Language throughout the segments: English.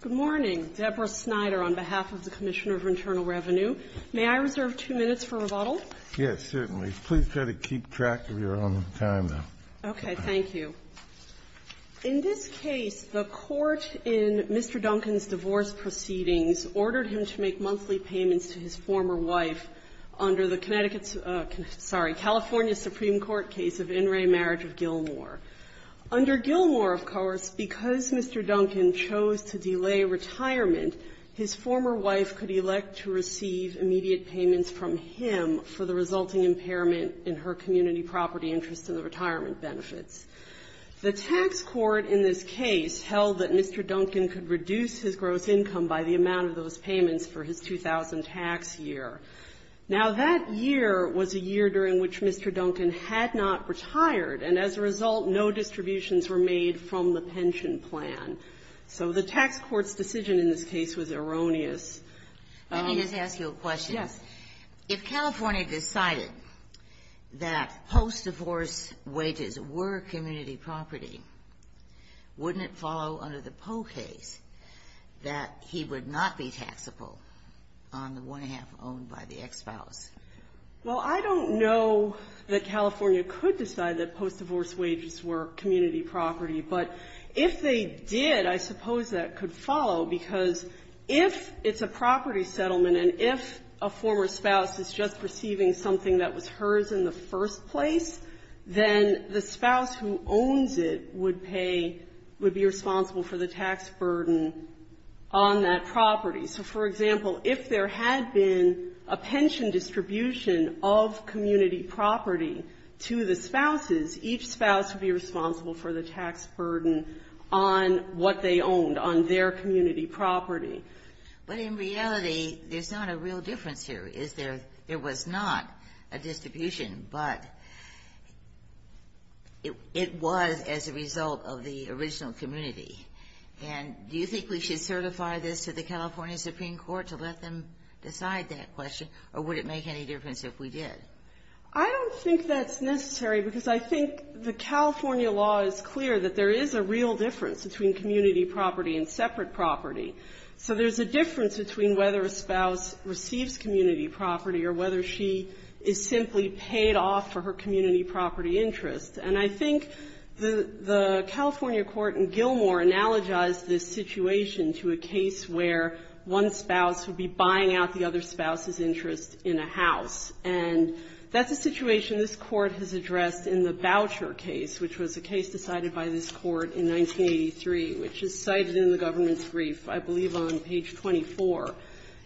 Good morning. Deborah Snyder on behalf of the Commissioner for Internal Revenue. May I reserve two minutes for rebuttal? Yes, certainly. Please try to keep track of your own time, though. Okay. Thank you. In this case, the Court in Mr. Dunkin's divorce proceedings ordered him to make monthly payments to his former wife under the Connecticut's – sorry, California Supreme Court case of Under Gilmour, of course, because Mr. Dunkin chose to delay retirement, his former wife could elect to receive immediate payments from him for the resulting impairment in her community property interest and the retirement benefits. The tax court in this case held that Mr. Dunkin could reduce his gross income by the amount of those payments for his 2000 tax year. Now, that year was a year during which Mr. Dunkin had not retired, and as a result, no distributions were made from the pension plan. So the tax court's decision in this case was erroneous. Let me just ask you a question. Yes. If California decided that post-divorce wages were community property, wouldn't it follow under the Poe case that he would not be taxable on the one-half owned by the ex-spouse? Well, I don't know that California could decide that post-divorce wages were community property, but if they did, I suppose that could follow, because if it's a property settlement and if a former spouse is just receiving something that was hers in the first place, then the spouse who owns it would pay – would be responsible for the tax burden on that property. So, for example, if there had been a pension distribution of community property to the spouses, each spouse would be responsible for the tax burden on what they owned, on their community property. But in reality, there's not a real difference here, is there? There was not a distribution, but it was as a result of the original community. And do you think we should certify this to make any difference if we did? I don't think that's necessary, because I think the California law is clear that there is a real difference between community property and separate property. So there's a difference between whether a spouse receives community property or whether she is simply paid off for her community property interest. And I think the California court in Gilmore analogized this situation to a case where one spouse would be buying out the other spouse's interest in a property in a house. And that's a situation this Court has addressed in the Boucher case, which was a case decided by this Court in 1983, which is cited in the government's brief, I believe, on page 24.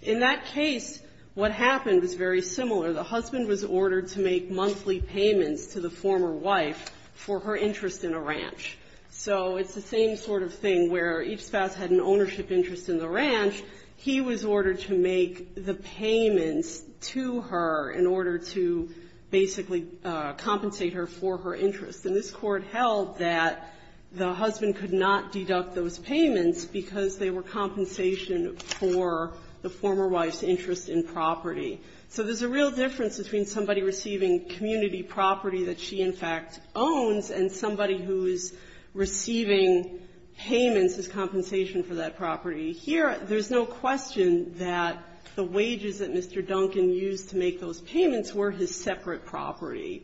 In that case, what happened was very similar. The husband was ordered to make monthly payments to the former wife for her interest in a ranch. So it's the same sort of thing where each spouse had an ownership interest in the ranch. He was ordered to make the payments to her in order to basically compensate her for her interest. And this Court held that the husband could not deduct those payments because they were compensation for the former wife's interest in property. So there's a real difference between somebody receiving community property that she, in fact, owns and somebody who is receiving payments as compensation for that property. Here, there's no question that the wages that Mr. Duncan used to make those payments were his separate property.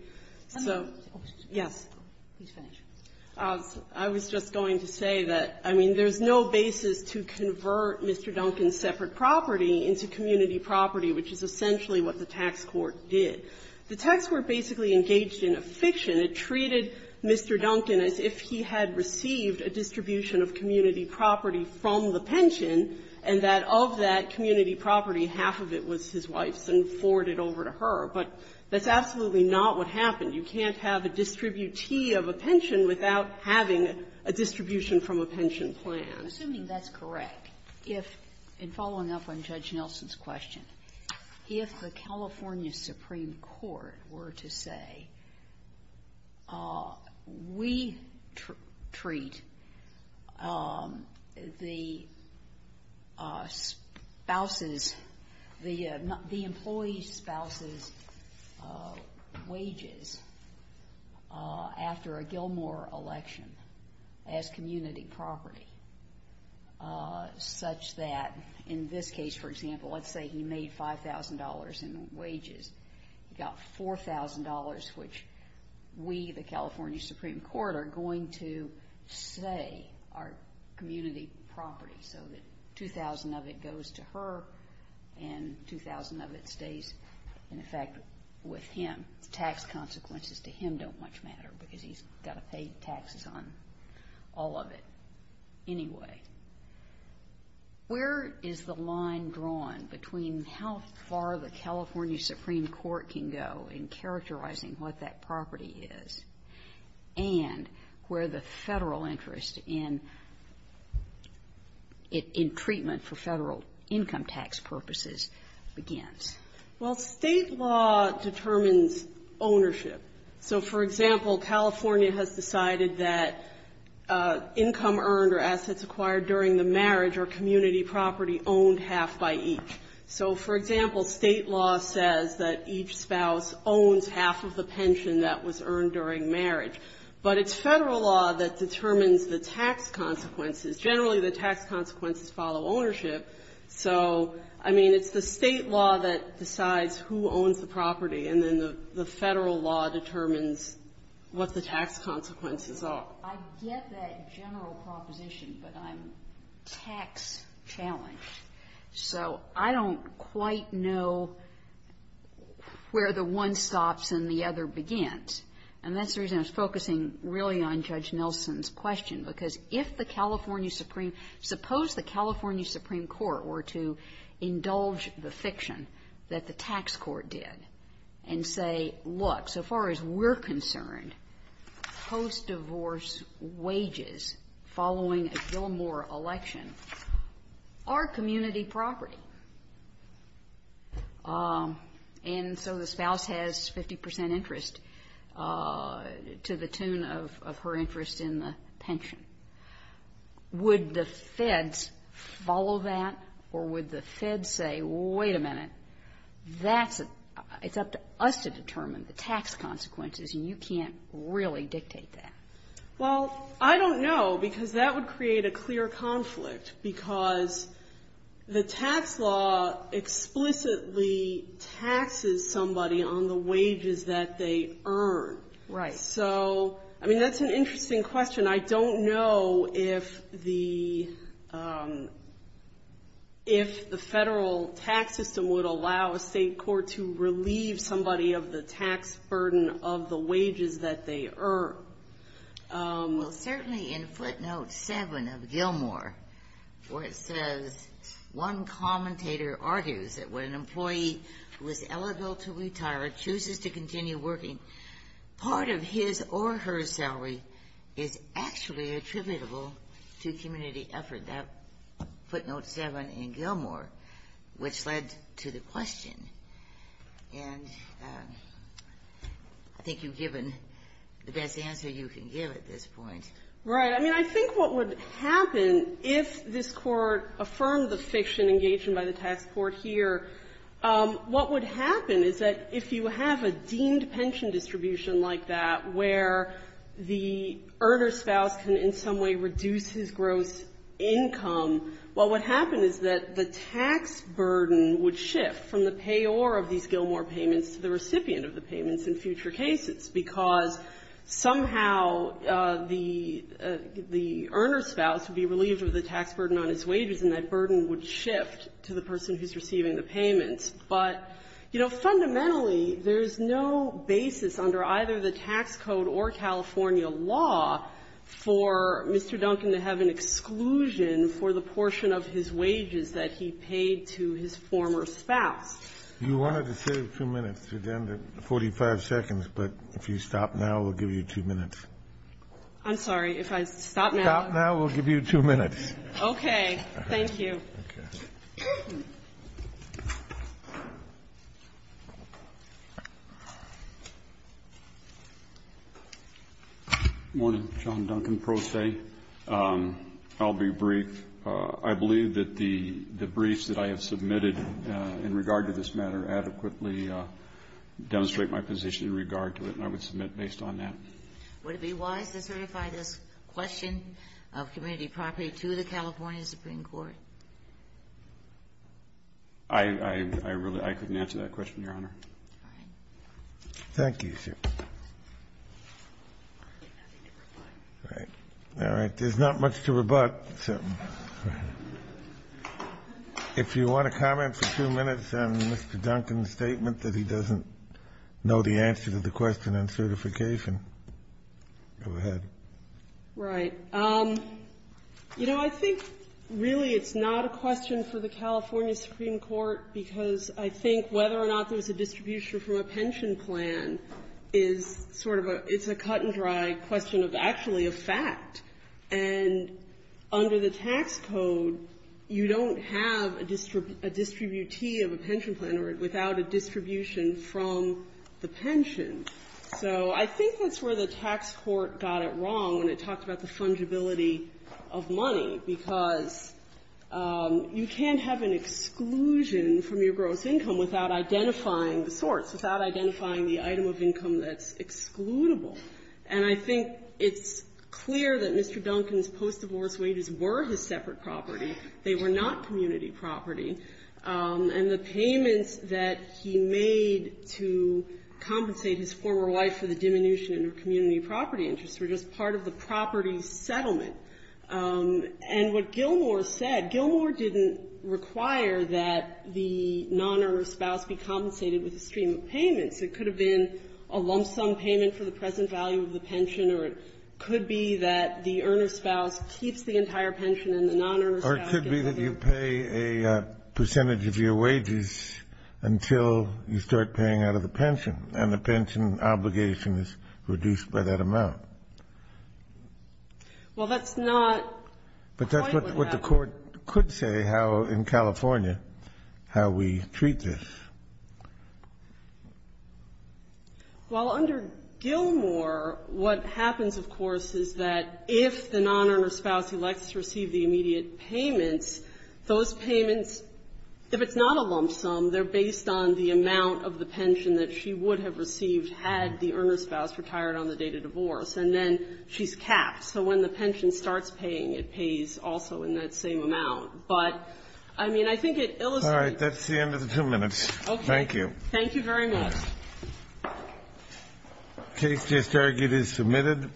So yes. I was just going to say that, I mean, there's no basis to convert Mr. Duncan's separate property into community property, which is essentially what the tax court did. The tax court basically engaged in a fiction. It treated Mr. Duncan as if he had received a distribution of community property from the pension, and that of that community property, half of it was his wife's and forwarded over to her. But that's absolutely not what happened. You can't have a distributee of a pension without having a distribution from a pension plan. Assuming that's correct, if, in following up on Judge Nelson's question, if the California Supreme Court were to say, we treat the spouse's, the employee's spouse's wages after a Gilmore election as community property, such that in this case, for example, let's say he made $5,000 in wages. He got $4,000, which we, the California Supreme Court, are going to say are community property, so that $2,000 of it goes to her and $2,000 of it stays, in effect, with him. The tax consequences to him don't much matter because he's got to pay taxes on all of it anyway. Where is the line drawn between how far the California Supreme Court can go in characterizing what that property is and where the Federal interest in treatment for Federal income tax purposes begins? Well, State law determines ownership. So, for example, California has decided that income earned or assets acquired during the marriage are community property owned half by each. So, for example, State law says that each spouse owns half of the pension that was earned during marriage. But it's Federal law that determines the tax consequences. Generally, the tax consequences follow ownership. So, I mean, it's the State law that determines what the tax consequences are. I get that general proposition, but I'm tax-challenged. So I don't quite know where the one stops and the other begins. And that's the reason I was focusing really on Judge Nelson's question, because if the California Supreme Court were to indulge the fiction that the tax court did and say, look, so far as we're concerned, post-divorce wages following a Gilmore election are community property. And so the spouse has 50 percent interest to the tune of her interest in the pension. Would the Feds follow that, or would the Feds say, wait a minute, that's a — it's up to us to determine the tax consequences, and you can't really dictate that? Well, I don't know, because that would create a clear conflict, because the tax law explicitly taxes somebody on the wages that they earn. Right. So, I mean, that's an interesting question. I don't know if the — if the Federal tax system would allow a state court to relieve somebody of the tax burden of the wages that they earn. Well, certainly in footnote 7 of Gilmore, where it says, one commentator argues that when an employee who is eligible to retire chooses to continue working, part of his or her salary is actually attributable to community effort. That footnote 7 in Gilmore which led to the question. And I think you've given the best answer you can give at this point. Right. I mean, I think what would happen if this Court affirmed the fiction engaged in by the tax court here, what would happen is that if you have a deemed pension distribution like that, where the earner's spouse can in some way reduce his gross income, well, what happened is that the tax burden would shift from the payor of these Gilmore payments to the recipient of the payments in future cases, because somehow the — the earner's spouse would be relieved of the tax burden on his wages, and that burden would shift to the person who's receiving the payments. But, you know, fundamentally, there's no basis under either the tax code or California law for Mr. Duncan to have an exclusion for the portion of his wages that he paid to his former spouse. You wanted to save two minutes. You're down to 45 seconds. But if you stop now, we'll give you two minutes. I'm sorry. If I stop now, I'll give you two minutes. Okay. Thank you. Okay. Good morning. John Duncan, Pro Se. I'll be brief. I believe that the briefs that I have submitted in regard to this matter adequately demonstrate my position in regard to it, and I would submit based on that. Would it be wise to certify this question of community property to the California Supreme Court? I really — I couldn't answer that question, Your Honor. All right. Thank you, sir. I have nothing to rebut. All right. All right. There's not much to rebut, so — if you want to comment for two minutes on Mr. Go ahead. Right. You know, I think, really, it's not a question for the California Supreme Court because I think whether or not there was a distribution from a pension plan is sort of a — it's a cut-and-dry question of actually a fact. And under the tax code, you don't have a distributee of a pension plan without a distribution from the pension. So I think that's where the tax court got it wrong when it talked about the fungibility of money, because you can't have an exclusion from your gross income without identifying the sorts, without identifying the item of income that's excludable. And I think it's clear that Mr. Duncan's post-divorce wages were his separate property. They were not community property. And the payments that he made to compensate his former wife for the diminution in her community property interests were just part of the property settlement. And what Gilmour said, Gilmour didn't require that the non-earner spouse be compensated with a stream of payments. It could have been a lump sum payment for the present value of the pension, or it could be that the earner spouse keeps the entire pension and the non-earner spouse doesn't. Or it could be that you pay a percentage of your wages until you start paying out of the pension, and the pension obligation is reduced by that amount. Well, that's not quite what happened. But that's what the Court could say how, in California, how we treat this. Well, under Gilmour, what happens, of course, is that if the non-earner spouse elects to receive the immediate payments, those payments, if it's not a lump sum, they're based on the amount of the pension that she would have received had the earner spouse retired on the date of divorce, and then she's capped. So when the pension starts paying, it pays also in that same amount. But, I mean, I think it illustrates the difference. Kennedy. All right. That's the end of the two minutes. Thank you. Thank you very much. The case just argued is submitted.